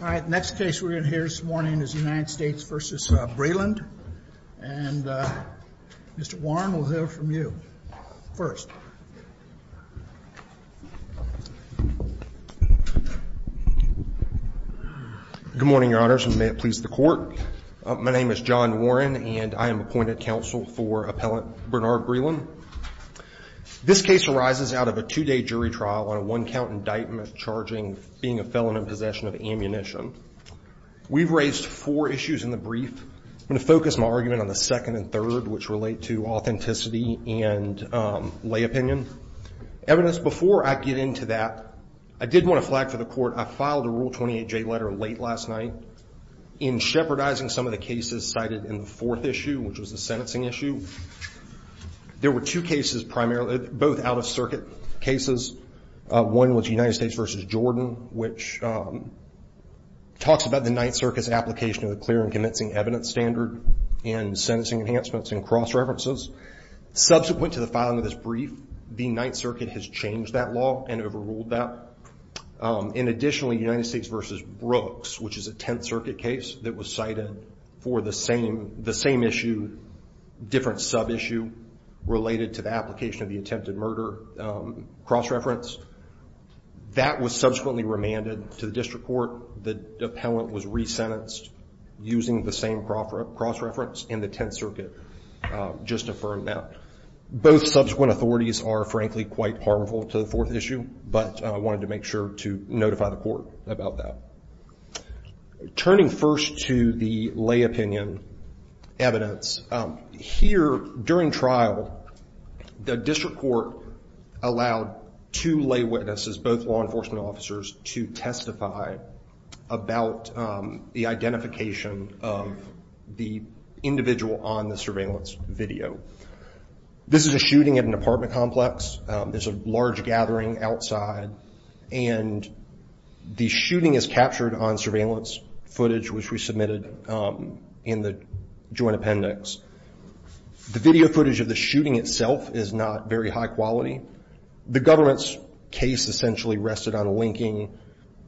All right, next case we're going to hear this morning is United States v. Breeland. And Mr. Warren, we'll hear from you first. Good morning, Your Honors, and may it please the Court. My name is John Warren, and I am appointed counsel for Appellant Bernard Breeland. This case arises out of a two-day jury trial on a one-count indictment charging being a felon in possession of ammunition. We've raised four issues in the brief. I'm going to focus my argument on the second and third, which relate to authenticity and lay opinion. Evidence, before I get into that, I did want to flag for the Court I filed a Rule 28J letter late last night in shepherdizing some of the cases cited in the fourth issue, which was the sentencing issue. There were two cases primarily, both out-of-circuit cases. One was United States v. Jordan, which talks about the Ninth Circuit's application of the clear and convincing evidence standard in sentencing enhancements and cross-references. Subsequent to the filing of this brief, the Ninth Circuit has changed that law and overruled that. And additionally, United States v. Brooks, which is a Tenth Circuit case that was cited for the same issue, different sub-issue related to the application of the attempted murder cross-reference, that was subsequently remanded to the District Court. The appellant was resentenced using the same cross-reference, and the Tenth Circuit just affirmed that. Both subsequent authorities are, frankly, quite harmful to the fourth issue, but I wanted to make sure to notify the Court about that. Turning first to the lay opinion evidence, here during trial, the District Court allowed two lay witnesses, both law enforcement officers, to testify about the identification of the individual on the surveillance video. This is a shooting at an apartment complex. There's a large gathering outside, and the shooting is captured on surveillance footage, which we submitted in the joint appendix. The video footage of the shooting itself is not very high quality. The government's case essentially rested on linking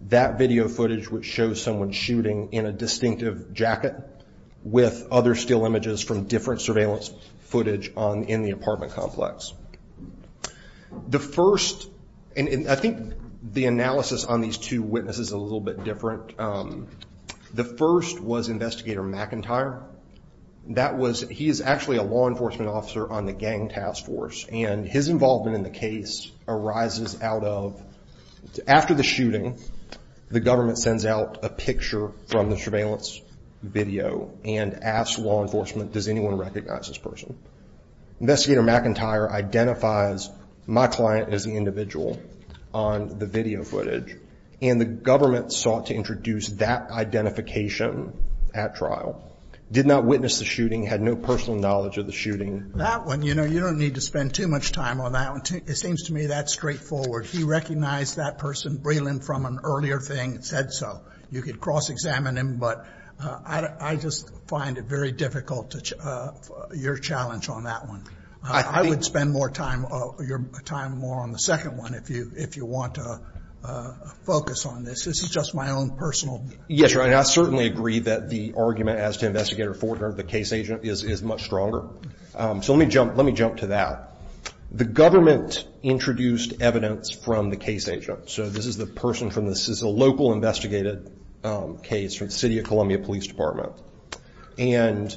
that video footage, which shows someone shooting in a distinctive jacket, with other still images from different surveillance footage in the apartment complex. The first, and I think the analysis on these two witnesses is a little bit different. The first was Investigator McIntyre. He is actually a law enforcement officer on the gang task force, and his involvement in the case arises out of, after the shooting, the government sends out a picture from the Investigator McIntyre identifies my client as the individual on the video footage, and the government sought to introduce that identification at trial. Did not witness the shooting, had no personal knowledge of the shooting. That one, you know, you don't need to spend too much time on that one. It seems to me that's straightforward. He recognized that person, Breland, from an earlier thing, said so. You could cross-examine him, but I just find it very difficult, your challenge on that one. I would spend more time, your time more on the second one if you want to focus on this. This is just my own personal view. Yes, and I certainly agree that the argument as to Investigator Fortner, the case agent, is much stronger. So let me jump to that. The government introduced evidence from the case agent. So this is the person from, this is a local investigated case from the City of Columbia Police Department. And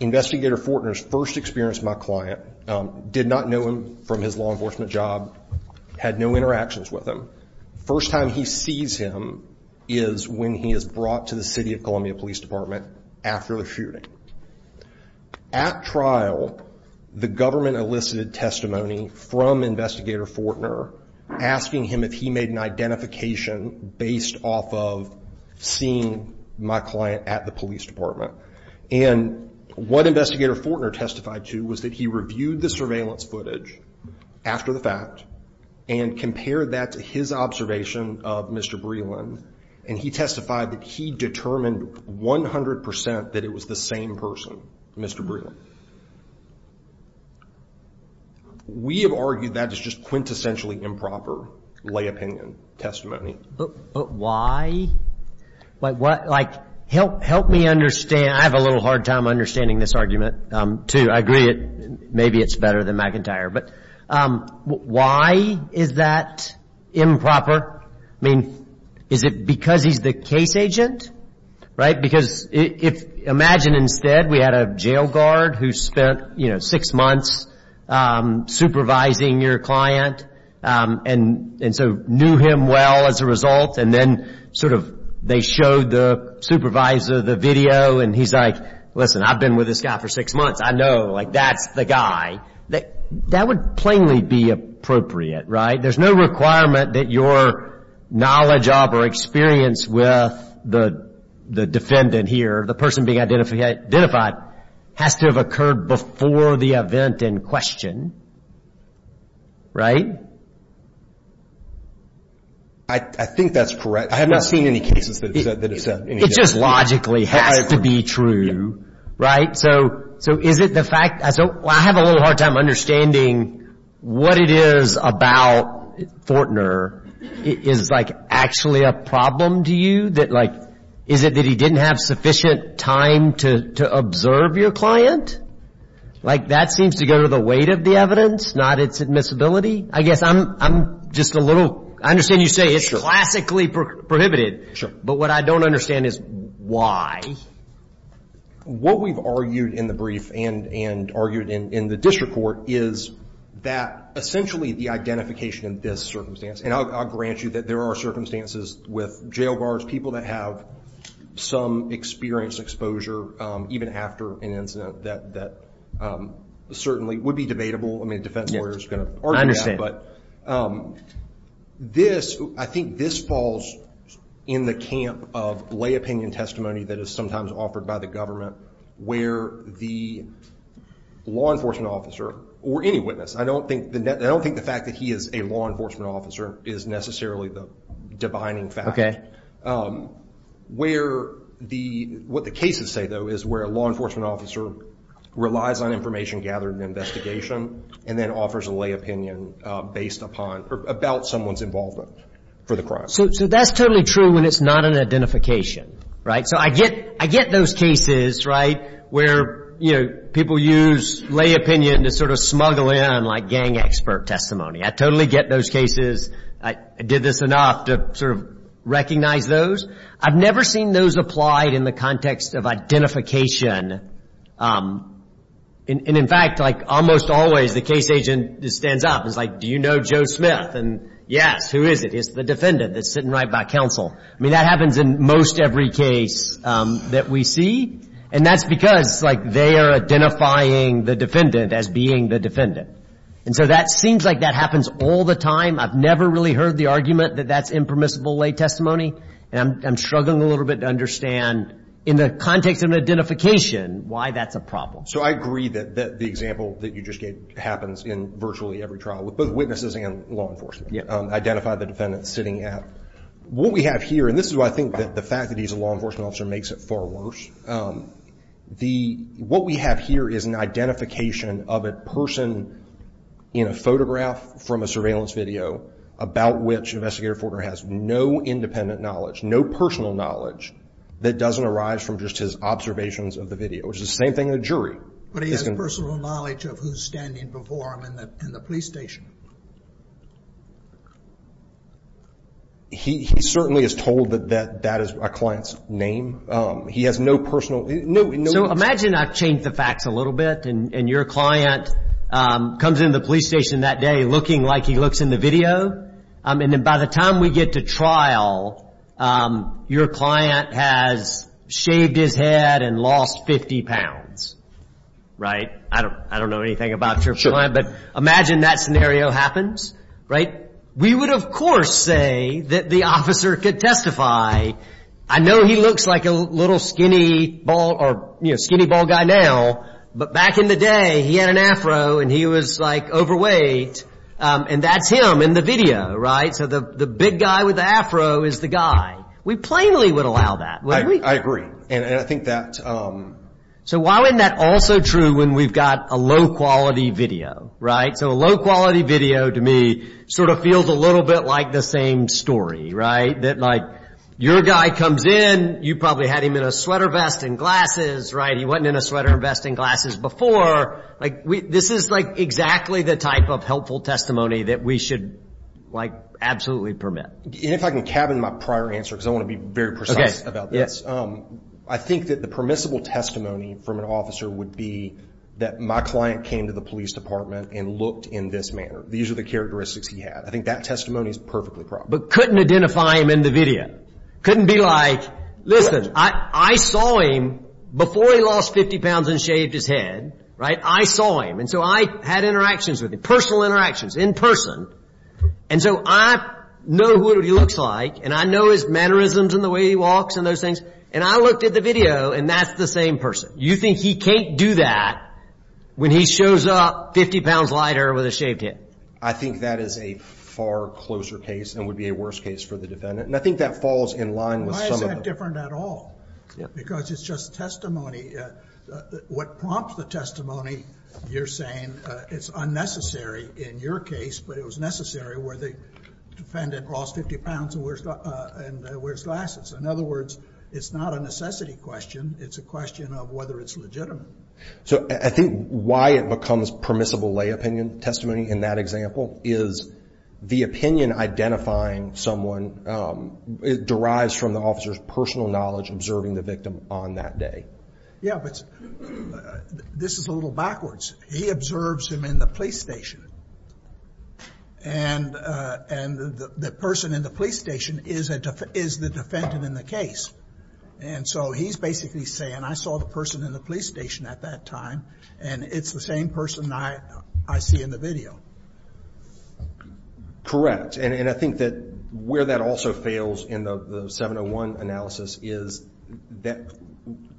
Investigator Fortner's first experience with my client, did not know him from his law enforcement job, had no interactions with him. First time he sees him is when he is brought to the City of Columbia Police Department after the shooting. At trial, the government elicited testimony from Investigator Fortner, asking him if he made an identification based off of seeing my client at the police department. And what Investigator Fortner testified to was that he reviewed the surveillance footage after the fact and compared that to his observation of Mr. Breland. And he testified that he determined 100% that it was the same person, Mr. Breland. We have argued that is just quintessentially improper lay opinion testimony. But why? Like, what, like, help me understand, I have a little hard time understanding this argument too. I agree it, maybe it's better than McIntyre. But why is that improper? I mean, is it because he's the case agent? Because if, imagine instead we had a jail guard who spent, you know, six months supervising your client and so knew him well as a result and then sort of, they showed the supervisor the video and he's like, listen, I've been with this guy for six months, I know, like that's the guy. That would plainly be appropriate, right? There's no requirement that your knowledge of or experience with the defendant here, the person being identified, has to have occurred before the event in question, right? I think that's correct. I have not seen any cases that have said any of that. It just logically has to be true, right? So, is it the fact, I have a little hard time understanding what it is about Fortner, is like actually a problem to you? Is it that he didn't have sufficient time to observe your client? Like, that seems to go to the weight of the evidence, not its admissibility? I guess I'm just a little, I understand you say it's classically prohibited, but what I don't understand is why? What we've argued in the brief and argued in the district court is that essentially the identification in this circumstance, and I'll grant you that there are circumstances with jail bars, people that have some experience, exposure, even after an incident that certainly would be debatable. I mean, a defense lawyer is going to argue that. So, this, I think this falls in the camp of lay opinion testimony that is sometimes offered by the government, where the law enforcement officer, or any witness, I don't think the fact that he is a law enforcement officer is necessarily the divining fact. What the cases say, though, is where a law enforcement officer relies on information gathered in an investigation, and then offers a lay opinion based upon, or about someone's involvement for the crime. So, that's totally true when it's not an identification, right? So, I get those cases, right, where, you know, people use lay opinion to sort of smuggle in like gang expert testimony. I totally get those cases. I did this enough to sort of recognize those. I've never seen those applied in the context of identification. And in fact, like almost always, the case agent just stands up and is like, do you know Joe Smith? And yes, who is it? It's the defendant that's sitting right by counsel. I mean, that happens in most every case that we see, and that's because, like, they are identifying the defendant as being the defendant. And so, that seems like that happens all the time. I've never really heard the argument that that's impermissible lay testimony. And I'm struggling a little bit to understand, in the context of an identification, why that's a problem. So, I agree that the example that you just gave happens in virtually every trial with both witnesses and law enforcement. Identify the defendant sitting at. What we have here, and this is why I think that the fact that he's a law enforcement officer makes it far worse. What we have here is an identification of a person in a photograph from a surveillance video about which Investigator Fortner has no independent knowledge, no personal knowledge that doesn't arise from just his observations of the video, which is the same thing in the But he has personal knowledge of who's standing before him in the police station. He certainly is told that that is a client's name. He has no personal. So, imagine I change the facts a little bit, and your client comes into the police station that day looking like he looks in the video, and by the time we get to trial, your client has shaved his head and lost 50 pounds, right? I don't know anything about your client, but imagine that scenario happens, right? We would, of course, say that the officer could testify. I know he looks like a little skinny ball guy now, but back in the day, he had an afro and he was, like, overweight, and that's him in the video, right? So, the big guy with the afro is the guy. We plainly would allow that. I agree. And I think that... So, why wouldn't that also be true when we've got a low-quality video, right? So, a low-quality video, to me, sort of feels a little bit like the same story, right? That, like, your guy comes in, you probably had him in a sweater vest and glasses, right? He wasn't in a sweater vest and glasses before. This is, like, exactly the type of helpful testimony that we should, like, absolutely permit. And if I can cabin my prior answer, because I want to be very precise about this. I think that the permissible testimony from an officer would be that my client came to the police department and looked in this manner. These are the characteristics he had. I think that testimony is perfectly proper. But couldn't identify him in the video. Couldn't be like, listen, I saw him before he lost 50 pounds and shaved his head, right? I saw him. And so, I had interactions with him. Personal interactions. In person. And so, I know who he looks like. And I know his mannerisms and the way he walks and those things. And I looked at the video, and that's the same person. You think he can't do that when he shows up 50 pounds lighter with a shaved head? I think that is a far closer case and would be a worse case for the defendant. And I think that falls in line with some of the... Why is that different at all? Because it's just testimony. What prompts the testimony, you're saying, it's unnecessary in your case, but it was necessary where the defendant lost 50 pounds and wears glasses. In other words, it's not a necessity question. It's a question of whether it's legitimate. So I think why it becomes permissible lay opinion testimony in that example is the opinion identifying someone derives from the officer's personal knowledge observing the victim on that day. Yeah, but this is a little backwards. He observes him in the police station. And the person in the police station is the defendant in the case. And so, he's basically saying, I saw the person in the police station at that time, and it's the same person I see in the video. Correct. And I think that where that also fails in the 701 analysis is that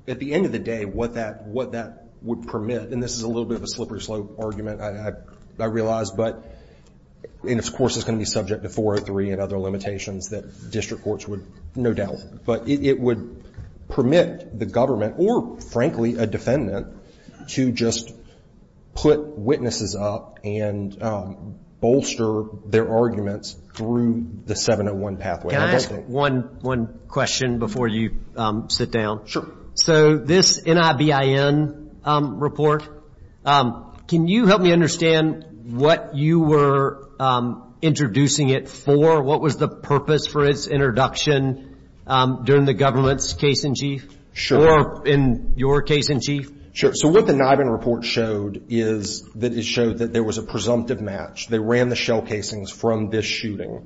at the end of the day, what that would permit, and this is a little bit of a slippery slope argument, I realize, but, and of course, it's going to be subject to 403 and other limitations that district courts would, no doubt. But it would permit the government or, frankly, a defendant to just put witnesses up and bolster their arguments through the 701 pathway. Can I ask one question before you sit down? Sure. So, this NIBIN report, can you help me understand what you were introducing it for? What was the purpose for its introduction during the government's case-in-chief or in your case-in-chief? Sure. So, what the NIBIN report showed is that it showed that there was a presumptive match. They ran the shell casings from this shooting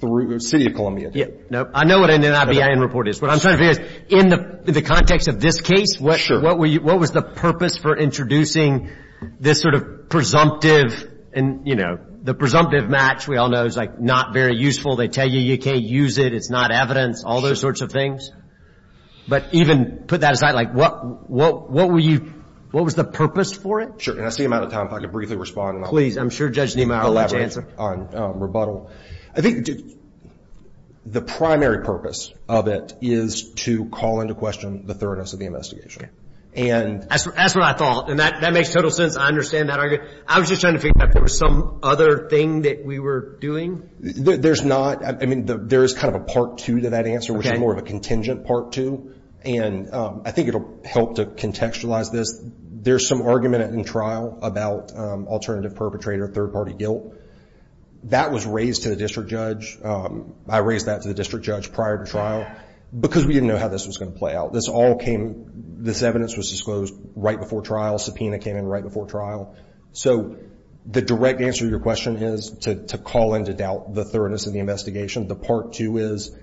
through the city of Columbia. No. I know what a NIBIN report is. What I'm trying to figure is, in the context of this case, what was the purpose for introducing this sort of presumptive and, you know, the presumptive match we all know is like not very useful. They tell you you can't use it. It's not evidence. All those sorts of things. But even put that aside, like what were you, what was the purpose for it? Sure. And I see I'm out of time. I'd like to briefly respond. Please. I'm sure Judge Nima already answered. I'll elaborate on rebuttal. I think the primary purpose of it is to call into question the thoroughness of the investigation. That's what I thought. And that makes total sense. I understand that argument. I was just trying to figure out if there was some other thing that we were doing. There's not. I mean, there is kind of a part two to that answer, which is more of a contingent part two. And I think it'll help to contextualize this. If there's some argument in trial about alternative perpetrator, third party guilt, that was raised to the district judge. I raised that to the district judge prior to trial because we didn't know how this was going to play out. This all came, this evidence was disclosed right before trial, subpoena came in right before trial. So the direct answer to your question is to call into doubt the thoroughness of the investigation. The part two is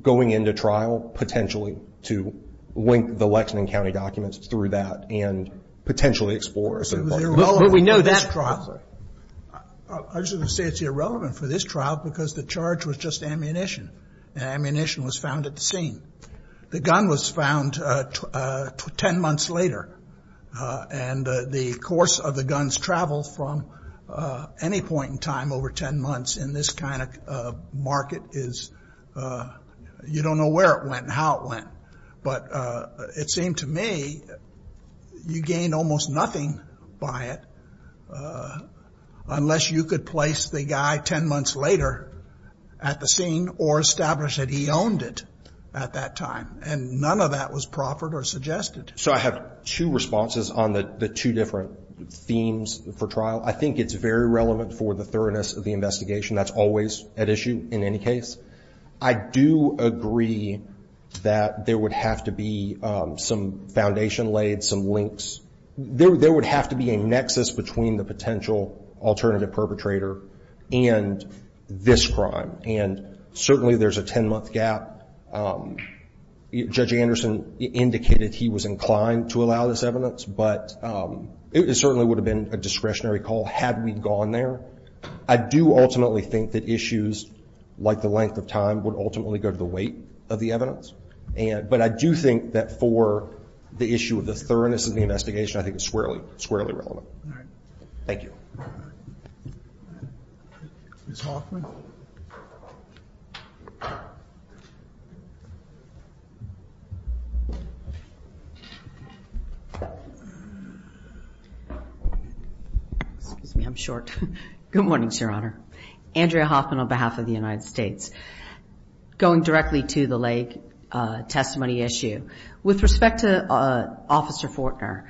going into trial potentially to link the Lexington County documents through that and potentially explore. Well, we know that trial, I just want to say it's irrelevant for this trial because the charge was just ammunition. Ammunition was found at the scene. The gun was found 10 months later. And the course of the gun's travel from any point in time over 10 months in this kind of market is, you don't know where it went and how it went. But it seemed to me you gained almost nothing by it unless you could place the guy 10 months later at the scene or establish that he owned it at that time. And none of that was proffered or suggested. So I have two responses on the two different themes for trial. I think it's very relevant for the thoroughness of the investigation. That's always at issue in any case. I do agree that there would have to be some foundation laid, some links. There would have to be a nexus between the potential alternative perpetrator and this crime. And certainly there's a 10 month gap. Judge Anderson indicated he was inclined to allow this evidence. But it certainly would have been a discretionary call had we gone there. I do ultimately think that issues like the length of time would ultimately go to the weight of the evidence. But I do think that for the issue of the thoroughness of the investigation, I think it's squarely relevant. Thank you. Ms. Hoffman? Excuse me. I'm short. Good morning, Your Honor. Andrea Hoffman on behalf of the United States. Going directly to the Lake testimony issue. With respect to Officer Fortner,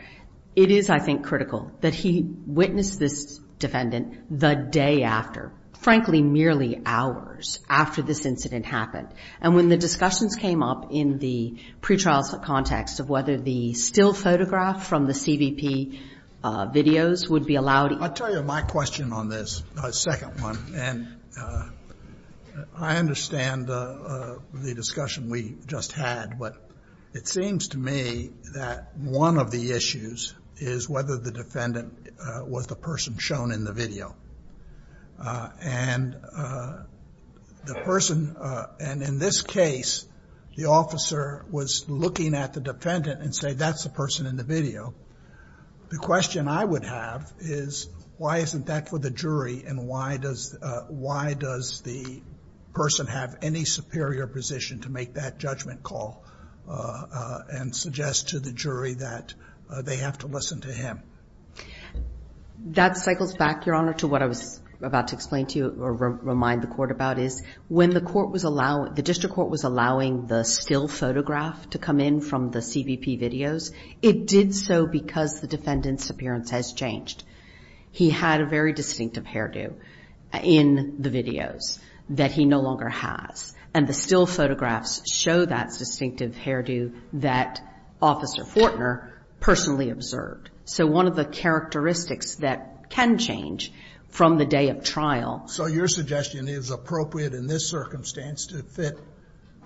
it is, I think, critical that he witness this defendant the day after. Frankly, merely hours after this incident happened. And when the discussions came up in the pretrial context of whether the still photograph from the CVP videos would be allowed. I'll tell you my question on this second one. And I understand the discussion we just had. But it seems to me that one of the issues is whether the defendant was the person shown in the video. And the person, and in this case, the officer was looking at the defendant and say, that's the person in the video. The question I would have is, why isn't that for the jury? And why does the person have any superior position to make that judgment call and suggest to the jury that they have to listen to him? That cycles back, Your Honor, to what I was about to explain to you or remind the court about is, when the court was allowing, the district court was allowing the still photograph to come in from the CVP videos, it did so because the defendant's appearance has changed. He had a very distinctive hairdo in the videos that he no longer has. And the still photographs show that distinctive hairdo that Officer Fortner personally observed. So one of the characteristics that can change from the day of trial. So your suggestion is appropriate in this circumstance to fit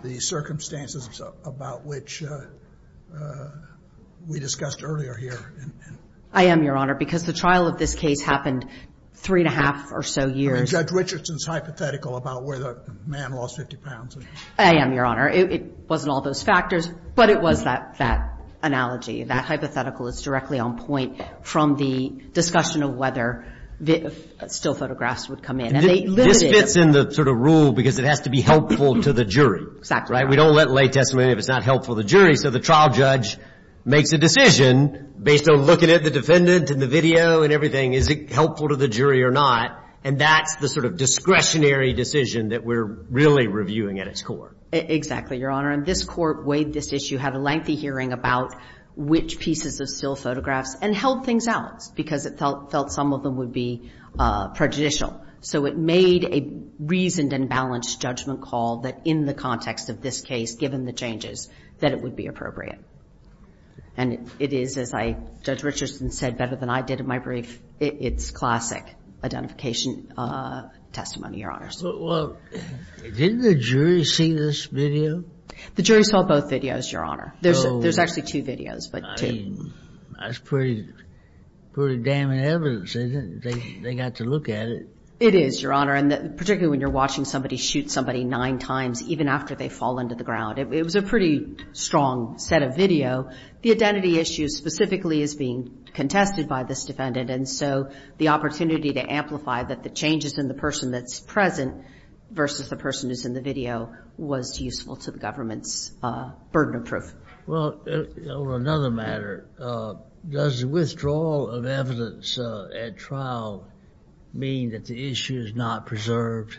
the circumstances about which we discussed earlier here. I am, Your Honor, because the trial of this case happened three and a half or so years. Judge Richardson's hypothetical about where the man lost 50 pounds. I am, Your Honor. It wasn't all those factors, but it was that analogy. That hypothetical is directly on point from the discussion of whether still photographs would come in. And they limited it. This fits in the sort of rule because it has to be helpful to the jury. Exactly. Right? We don't let lay testimony if it's not helpful to the jury. So the trial judge makes a decision based on looking at the defendant and the video and everything, is it helpful to the jury or not? And that's the sort of discretionary decision that we're really reviewing at its core. Exactly, Your Honor. And this court weighed this issue, had a lengthy hearing about which pieces of still photographs and held things out because it felt some of them would be prejudicial. So it made a reasoned and balanced judgment call that in the context of this case, given the changes, that it would be appropriate. And it is, as I, Judge Richardson said better than I did in my brief, it's classic identification testimony, Your Honors. Well, didn't the jury see this video? The jury saw both videos, Your Honor. There's actually two videos. I mean, that's pretty damning evidence, isn't it? They got to look at it. It is, Your Honor. And particularly when you're watching somebody shoot somebody nine times, even after they fall into the ground. It was a pretty strong set of video. The identity issue specifically is being contested by this defendant. And so the opportunity to amplify that the changes in the person that's present versus the person who's in the video was useful to the government's burden of proof. Well, on another matter, does the withdrawal of evidence at trial mean that the issue is not preserved?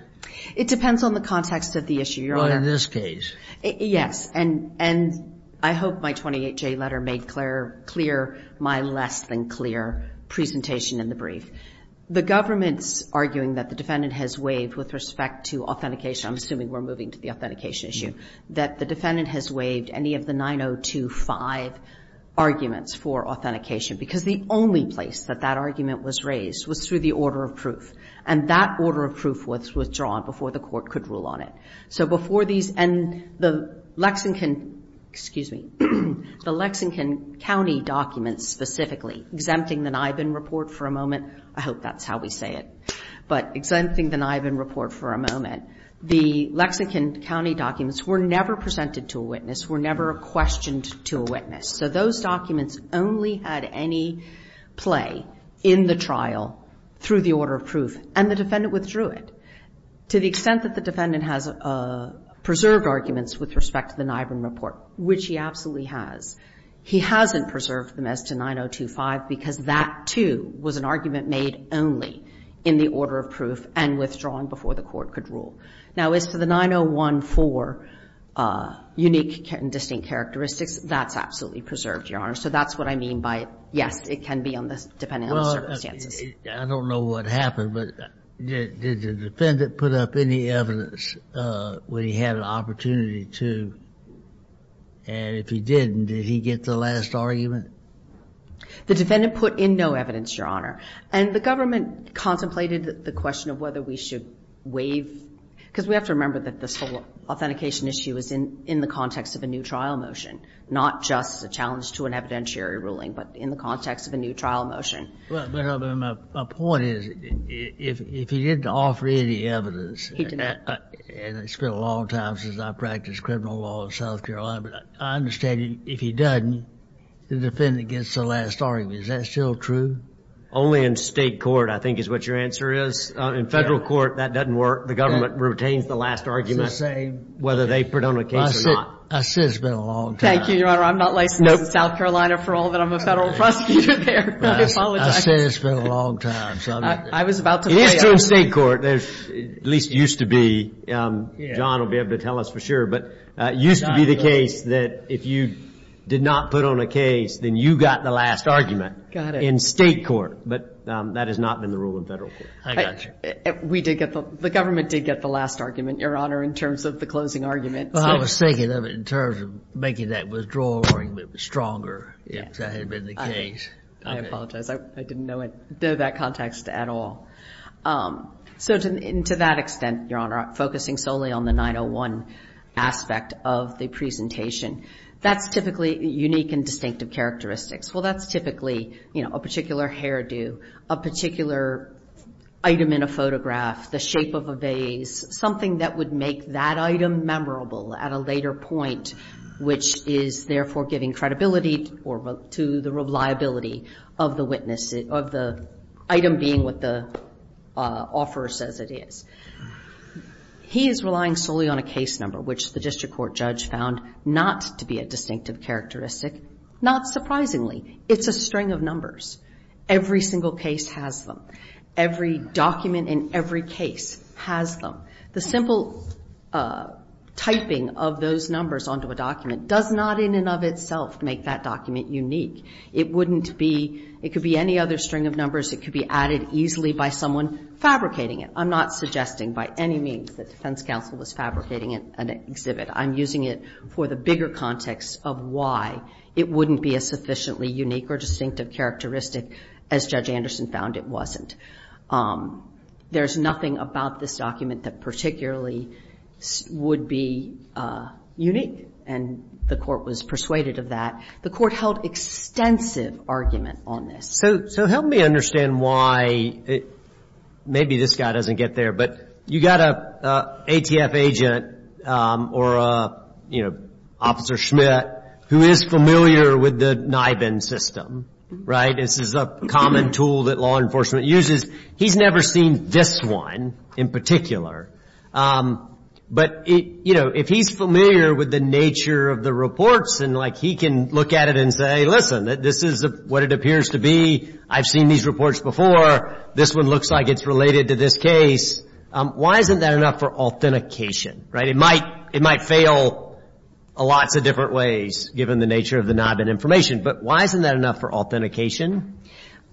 It depends on the context of the issue, Your Honor. In this case. Yes. And I hope my 28J letter made clear my less than clear presentation in the brief. The government's arguing that the defendant has waived, with respect to authentication, I'm assuming we're moving to the authentication issue, that the defendant has waived any of the 9025 arguments for authentication. Because the only place that that argument was raised was through the order of proof. And that order of proof was withdrawn before the court could rule on it. So before these, and the Lexington, excuse me, the Lexington County documents specifically, exempting the Nibin report for a moment, I hope that's how we say it. But exempting the Nibin report for a moment, the Lexington County documents were never presented to a witness, were never questioned to a witness. So those documents only had any play in the trial through the order of proof. And the defendant withdrew it. To the extent that the defendant has preserved arguments with respect to the Nibin report, which he absolutely has, he hasn't preserved them as to 9025. Because that, too, was an argument made only in the order of proof and withdrawn before the court could rule. Now, as for the 9014 unique and distinct characteristics, that's absolutely preserved, Your Honor. So that's what I mean by, yes, it can be depending on the circumstances. I don't know what happened, but did the defendant put up any evidence when he had an opportunity to? And if he didn't, did he get the last argument? The defendant put in no evidence, Your Honor. And the government contemplated the question of whether we should waive, because we have to remember that this whole authentication issue is in the context of a new trial motion, not just a challenge to an evidentiary ruling, but in the context of a new trial motion. Well, but my point is, if he didn't offer any evidence, and it's been a long time since I practiced criminal law in South Carolina, but I understand if he doesn't, the defendant gets the last argument. Is that still true? Only in state court, I think, is what your answer is. In federal court, that doesn't work. The government retains the last argument, whether they put on a case or not. I said it's been a long time. Thank you, Your Honor. I'm not licensed in South Carolina for all that. I'm a federal prosecutor there, and I apologize. I said it's been a long time, so I'm not going to. I was about to play out. It is true in state court. At least it used to be. John will be able to tell us for sure. But it used to be the case that if you did not put on a case, then you got the last argument. Got it. In state court, but that has not been the rule in federal court. I got you. The government did get the last argument, Your Honor, in terms of the closing argument. Well, I was thinking of it in terms of making that withdrawal argument stronger, if that had been the case. I apologize. I didn't know that context at all. So to that extent, Your Honor, focusing solely on the 901 aspect of the presentation, that's typically unique and distinctive characteristics. Well, that's typically a particular hairdo, a particular item in a photograph, the shape of a vase, something that would make that item memorable at a later point, which is therefore giving credibility to the reliability of the item being what the offeror says it is. He is relying solely on a case number, which the district court judge found not to be a distinctive characteristic. Not surprisingly, it's a string of numbers. Every single case has them. Every document in every case has them. The simple typing of those numbers onto a document does not in and of itself make that document unique. It wouldn't be, it could be any other string of numbers. It could be added easily by someone fabricating it. I'm not suggesting by any means that defense counsel was fabricating an exhibit. I'm using it for the bigger context of why it wouldn't be a sufficiently unique or distinctive characteristic, as Judge Anderson found it wasn't. There's nothing about this document that particularly would be unique, and the court was persuaded of that. The court held extensive argument on this. So help me understand why, maybe this guy doesn't get there, but you got a ATF agent or Officer Schmidt who is familiar with the NIBIN system, right? This is a common tool that law enforcement uses. He's never seen this one in particular, but if he's familiar with the nature of the reports, and he can look at it and say, hey, listen, this is what it appears to be. I've seen these reports before. This one looks like it's related to this case. Why isn't that enough for authentication, right? It might fail lots of different ways, given the nature of the NIBIN information, but why isn't that enough for authentication?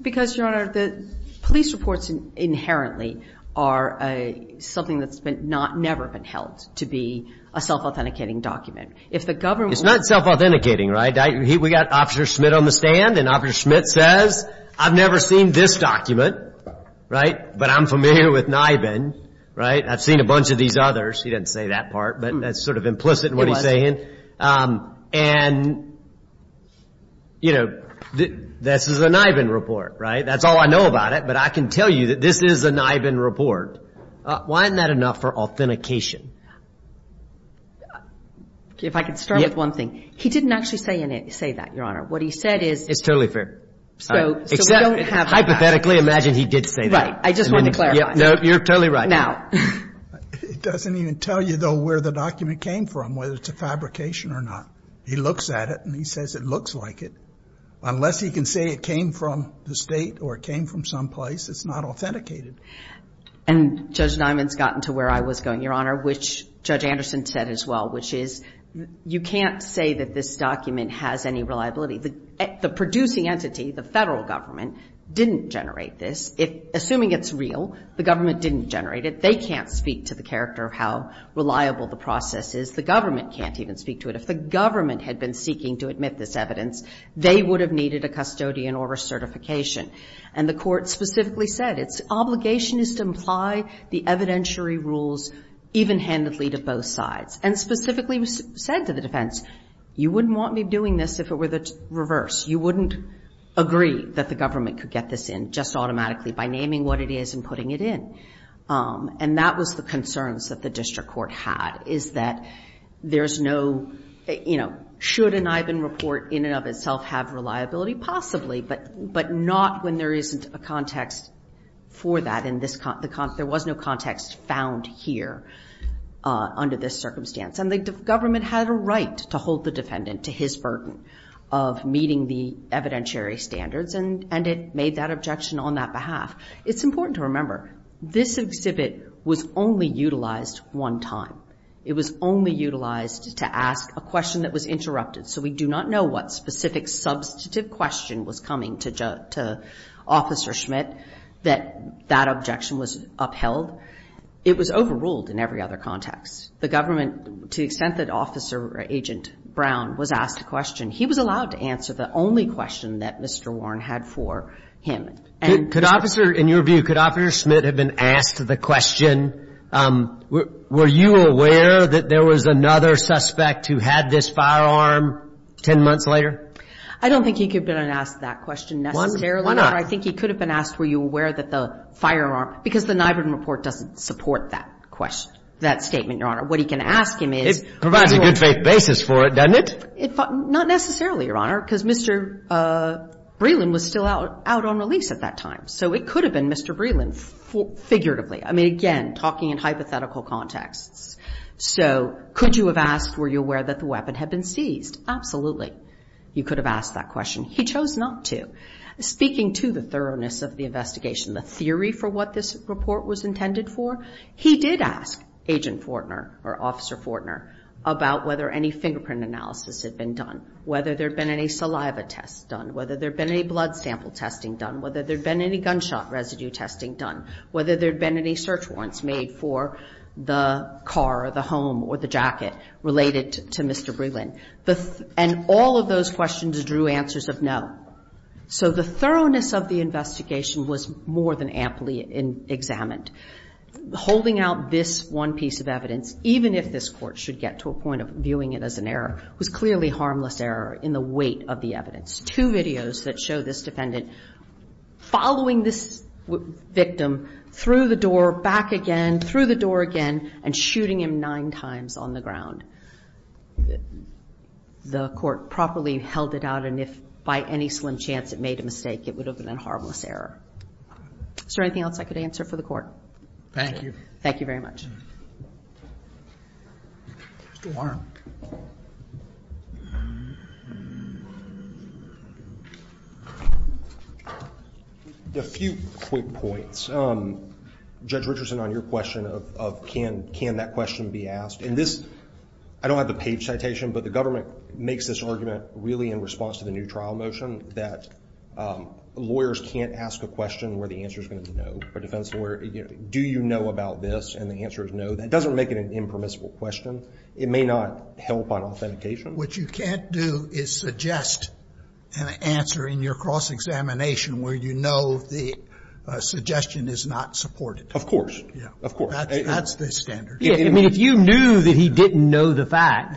Because, Your Honor, the police reports inherently are something that's never been held to be a self-authenticating document. If the government were to say, I've never seen this document, right, but I'm familiar with NIBIN, right? I've seen a bunch of these others. He didn't say that part, but that's sort of implicit in what he's saying. And, you know, this is a NIBIN report, right? That's all I know about it, but I can tell you that this is a NIBIN report. Why isn't that enough for authentication? If I could start with one thing. He didn't actually say that, Your Honor. What he said is- It's totally fair. Except, hypothetically, imagine he did say that. I just want to clarify. No, you're totally right. Now. It doesn't even tell you, though, where the document came from, whether it's a fabrication or not. He looks at it, and he says it looks like it. Unless he can say it came from the state or it came from someplace, it's not authenticated. And Judge Diamond's gotten to where I was going, Your Honor, which Judge Anderson said as well, which is you can't say that this document has any reliability. The producing entity, the federal government, didn't generate this. Assuming it's real, the government didn't generate it. They can't speak to the character of how reliable the process is. The government can't even speak to it. If the government had been seeking to admit this evidence, they would have needed a custodian or a certification. And the court specifically said its obligation is to imply the evidentiary rules even-handedly to both sides, and specifically said to the defense, you wouldn't want me doing this if it were the reverse. You wouldn't agree that the government could get this in just automatically by naming what it is and putting it in. And that was the concerns that the district court had, is that there's no, you know, should an Ivan report in and of itself have reliability? Possibly, but not when there isn't a context for that. There was no context found here under this circumstance. And the government had a right to hold the defendant to his burden of meeting the evidentiary standards, and it made that objection on that behalf. It's important to remember, this exhibit was only utilized one time. It was only utilized to ask a question that was interrupted. So we do not know what specific substantive question was coming to Officer Schmidt that that objection was upheld. It was overruled in every other context. The government, to the extent that Officer Agent Brown was asked a question, he was allowed to answer the only question that Mr. Warren had for him. And could Officer, in your view, could Officer Schmidt have been asked the question, were you aware that there was another suspect who had this firearm 10 months later? I don't think he could have been asked that question necessarily. Why not? I think he could have been asked, were you aware that the firearm, because the Nyburn report doesn't support that question, that statement, Your Honor. What he can ask him is, provides a good faith basis for it, doesn't it? Not necessarily, Your Honor, because Mr. Breland was still out on release at that time. So it could have been Mr. Breland figuratively. I mean, again, talking in hypothetical contexts. So could you have asked, were you aware that the weapon had been seized? Absolutely. You could have asked that question. He chose not to. Speaking to the thoroughness of the investigation, the theory for what this report was intended for, he did ask Agent Fortner or Officer Fortner about whether any fingerprint analysis had been done, whether there'd been any saliva tests done, whether there'd been any blood sample testing done, whether there'd been any gunshot residue testing done, whether there'd been any search warrants made for the car or the home or the jacket related to Mr. Breland. And all of those questions drew answers of no. So the thoroughness of the investigation was more than amply examined. Holding out this one piece of evidence, even if this court should get to a point of viewing it as an error, was clearly harmless error in the weight of the evidence. Two videos that show this defendant following this victim through the door, back again, through the door again, and shooting him nine times on the ground. The court properly held it out, and if by any slim chance it made a mistake, it would have been a harmless error. Is there anything else I could answer for the court? Thank you. Thank you very much. Mr. Warren. A few quick points. Judge Richardson, on your question of can that question be asked, in this, I don't have a page citation, but the government makes this argument really in response to the new trial motion that lawyers can't ask a question where the answer's going to be no. A defense lawyer, do you know about this? And the answer is no. That doesn't make it an impermissible question. It may not help on authentication. What you can't do is suggest an answer in your cross-examination where you know the suggestion is not supported. Of course. Of course. That's the standard. Yeah, I mean, if you knew that he didn't know the fact,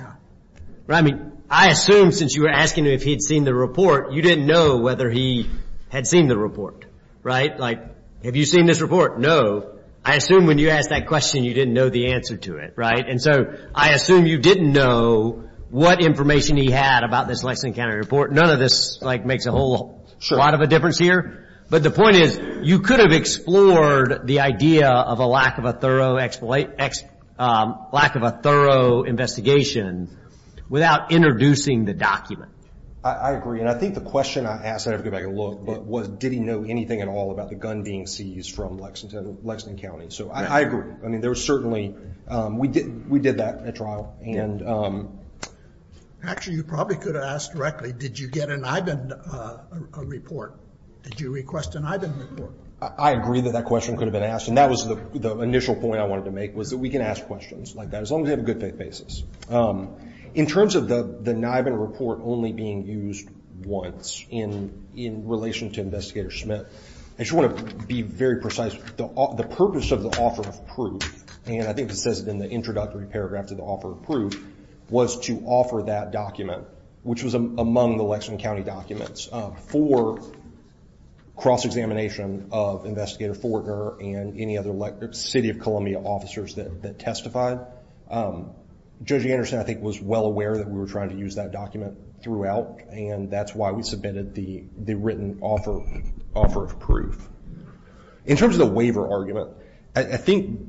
I mean, I assume since you were asking him if he had seen the report, you didn't know whether he had seen the report, right? Like, have you seen this report? No. I assume when you asked that question, you didn't know the answer to it, right? And so I assume you didn't know what information he had about this Lexington County report. None of this, like, makes a whole lot of a difference here. But the point is, you could have explored the idea of a lack of a thorough investigation without introducing the document. I agree. And I think the question I asked, I don't know if I can look, but did he know anything at all about the gun being seized from Lexington County? So I agree. I mean, there was certainly, we did that at trial. Actually, you probably could have asked directly, did you get an IBIN report? Did you request an IBIN report? I agree that that question could have been asked. And that was the initial point I wanted to make, was that we can ask questions like that, as long as we have a good faith basis. In terms of the IBIN report only being used once in relation to Investigator Smith, I just want to be very precise. The purpose of the offer of proof, and I think it says it in the introductory paragraph to the offer of proof, was to offer that document, which was among the Lexington County documents, for cross-examination of Investigator Fortner and any other City of Columbia officers that testified. Judge Anderson, I think, was well aware that we were trying to use that document throughout, and that's why we submitted the written offer of proof. In terms of the waiver argument, I think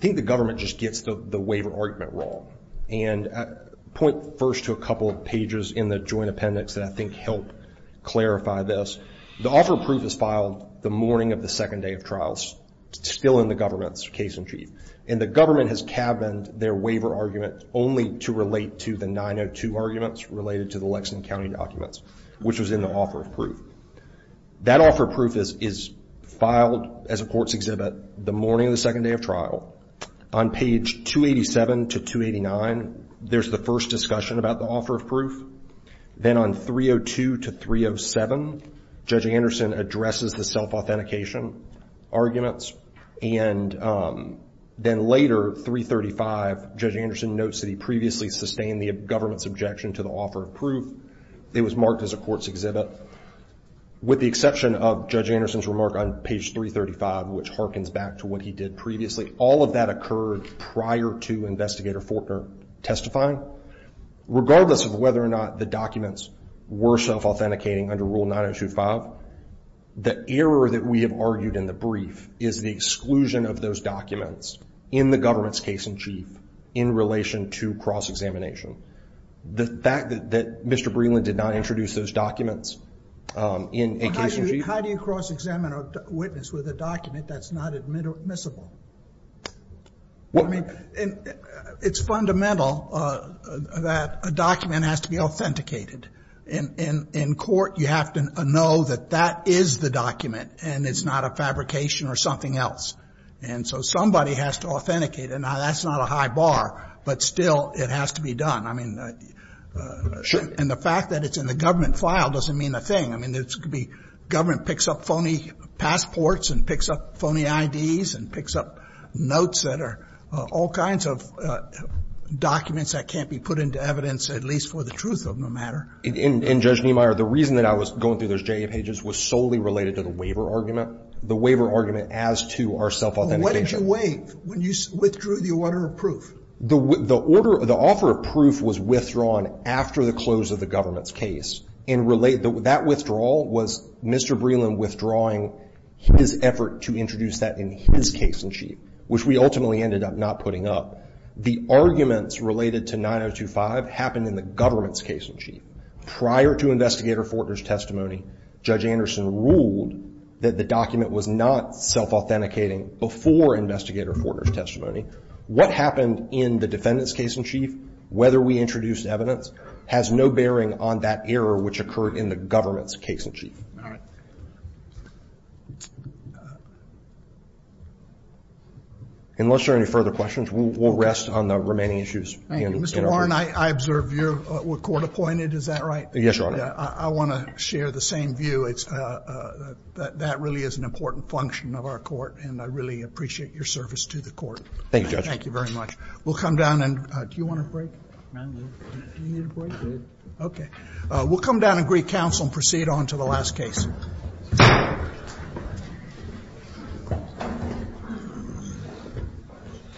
the government just gets the waiver argument wrong. And I point first to a couple of pages in the joint appendix that I think help clarify this. The offer of proof is filed the morning of the second day of trials, still in the government's case in chief. And the government has cabined their waiver argument only to relate to the 902 arguments related to the Lexington County documents, which was in the offer of proof. That offer of proof is filed as a court's exhibit the morning of the second day of trial. On page 287 to 289, there's the first discussion about the offer of proof. Then on 302 to 307, Judge Anderson addresses the self-authentication arguments. And then later, 335, Judge Anderson notes that he previously sustained the government's objection to the offer of proof. It was marked as a court's exhibit, with the exception of Judge Anderson's remark on page 335, which harkens back to what he did previously. All of that occurred prior to Investigator Fortner testifying. Regardless of whether or not the documents were self-authenticating under Rule 902.5, the error that we have argued in the brief is the exclusion of those documents in the government's case in chief in relation to cross-examination. The fact that Mr. Breland did not introduce those documents in a case in chief. How do you cross-examine a witness with a document that's not admissible? It's fundamental that a document has to be authenticated. In court, you have to know that that is the document and it's not a fabrication or something else. And so somebody has to authenticate it. Now that's not a high bar, but still it has to be done. I mean, and the fact that it's in the government file doesn't mean a thing. I mean, it could be government picks up phony passports and picks up phony IDs and picks up notes that are all kinds of documents that can't be put into evidence, at least for the truth of no matter. In Judge Niemeyer, the reason that I was going through those JA pages was solely related to the waiver argument, the waiver argument as to our self-authentication. What did you waive when you withdrew the order of proof? The order, the offer of proof was withdrawn after the close of the government's case. And that withdrawal was Mr. Breland withdrawing his effort to introduce that in his case in chief, which we ultimately ended up not putting up. The arguments related to 9025 happened in the government's case in chief. Prior to Investigator Fortner's testimony, Judge Anderson ruled that the document was not self-authenticating before Investigator Fortner's testimony. What happened in the defendant's case in chief, whether we introduced evidence, has no bearing on that error which occurred in the government's case in chief. All right. Unless there are any further questions, we'll rest on the remaining issues. Thank you. Mr. Warren, I observed you were court appointed. Is that right? Yes, Your Honor. I want to share the same view. That really is an important function of our court, and I really appreciate your service to the court. Thank you, Judge. Thank you very much. We'll come down and, do you want a break? No, I'm good. Do you need a break? I'm good. Okay. We'll come down and greet counsel and proceed on to the last case.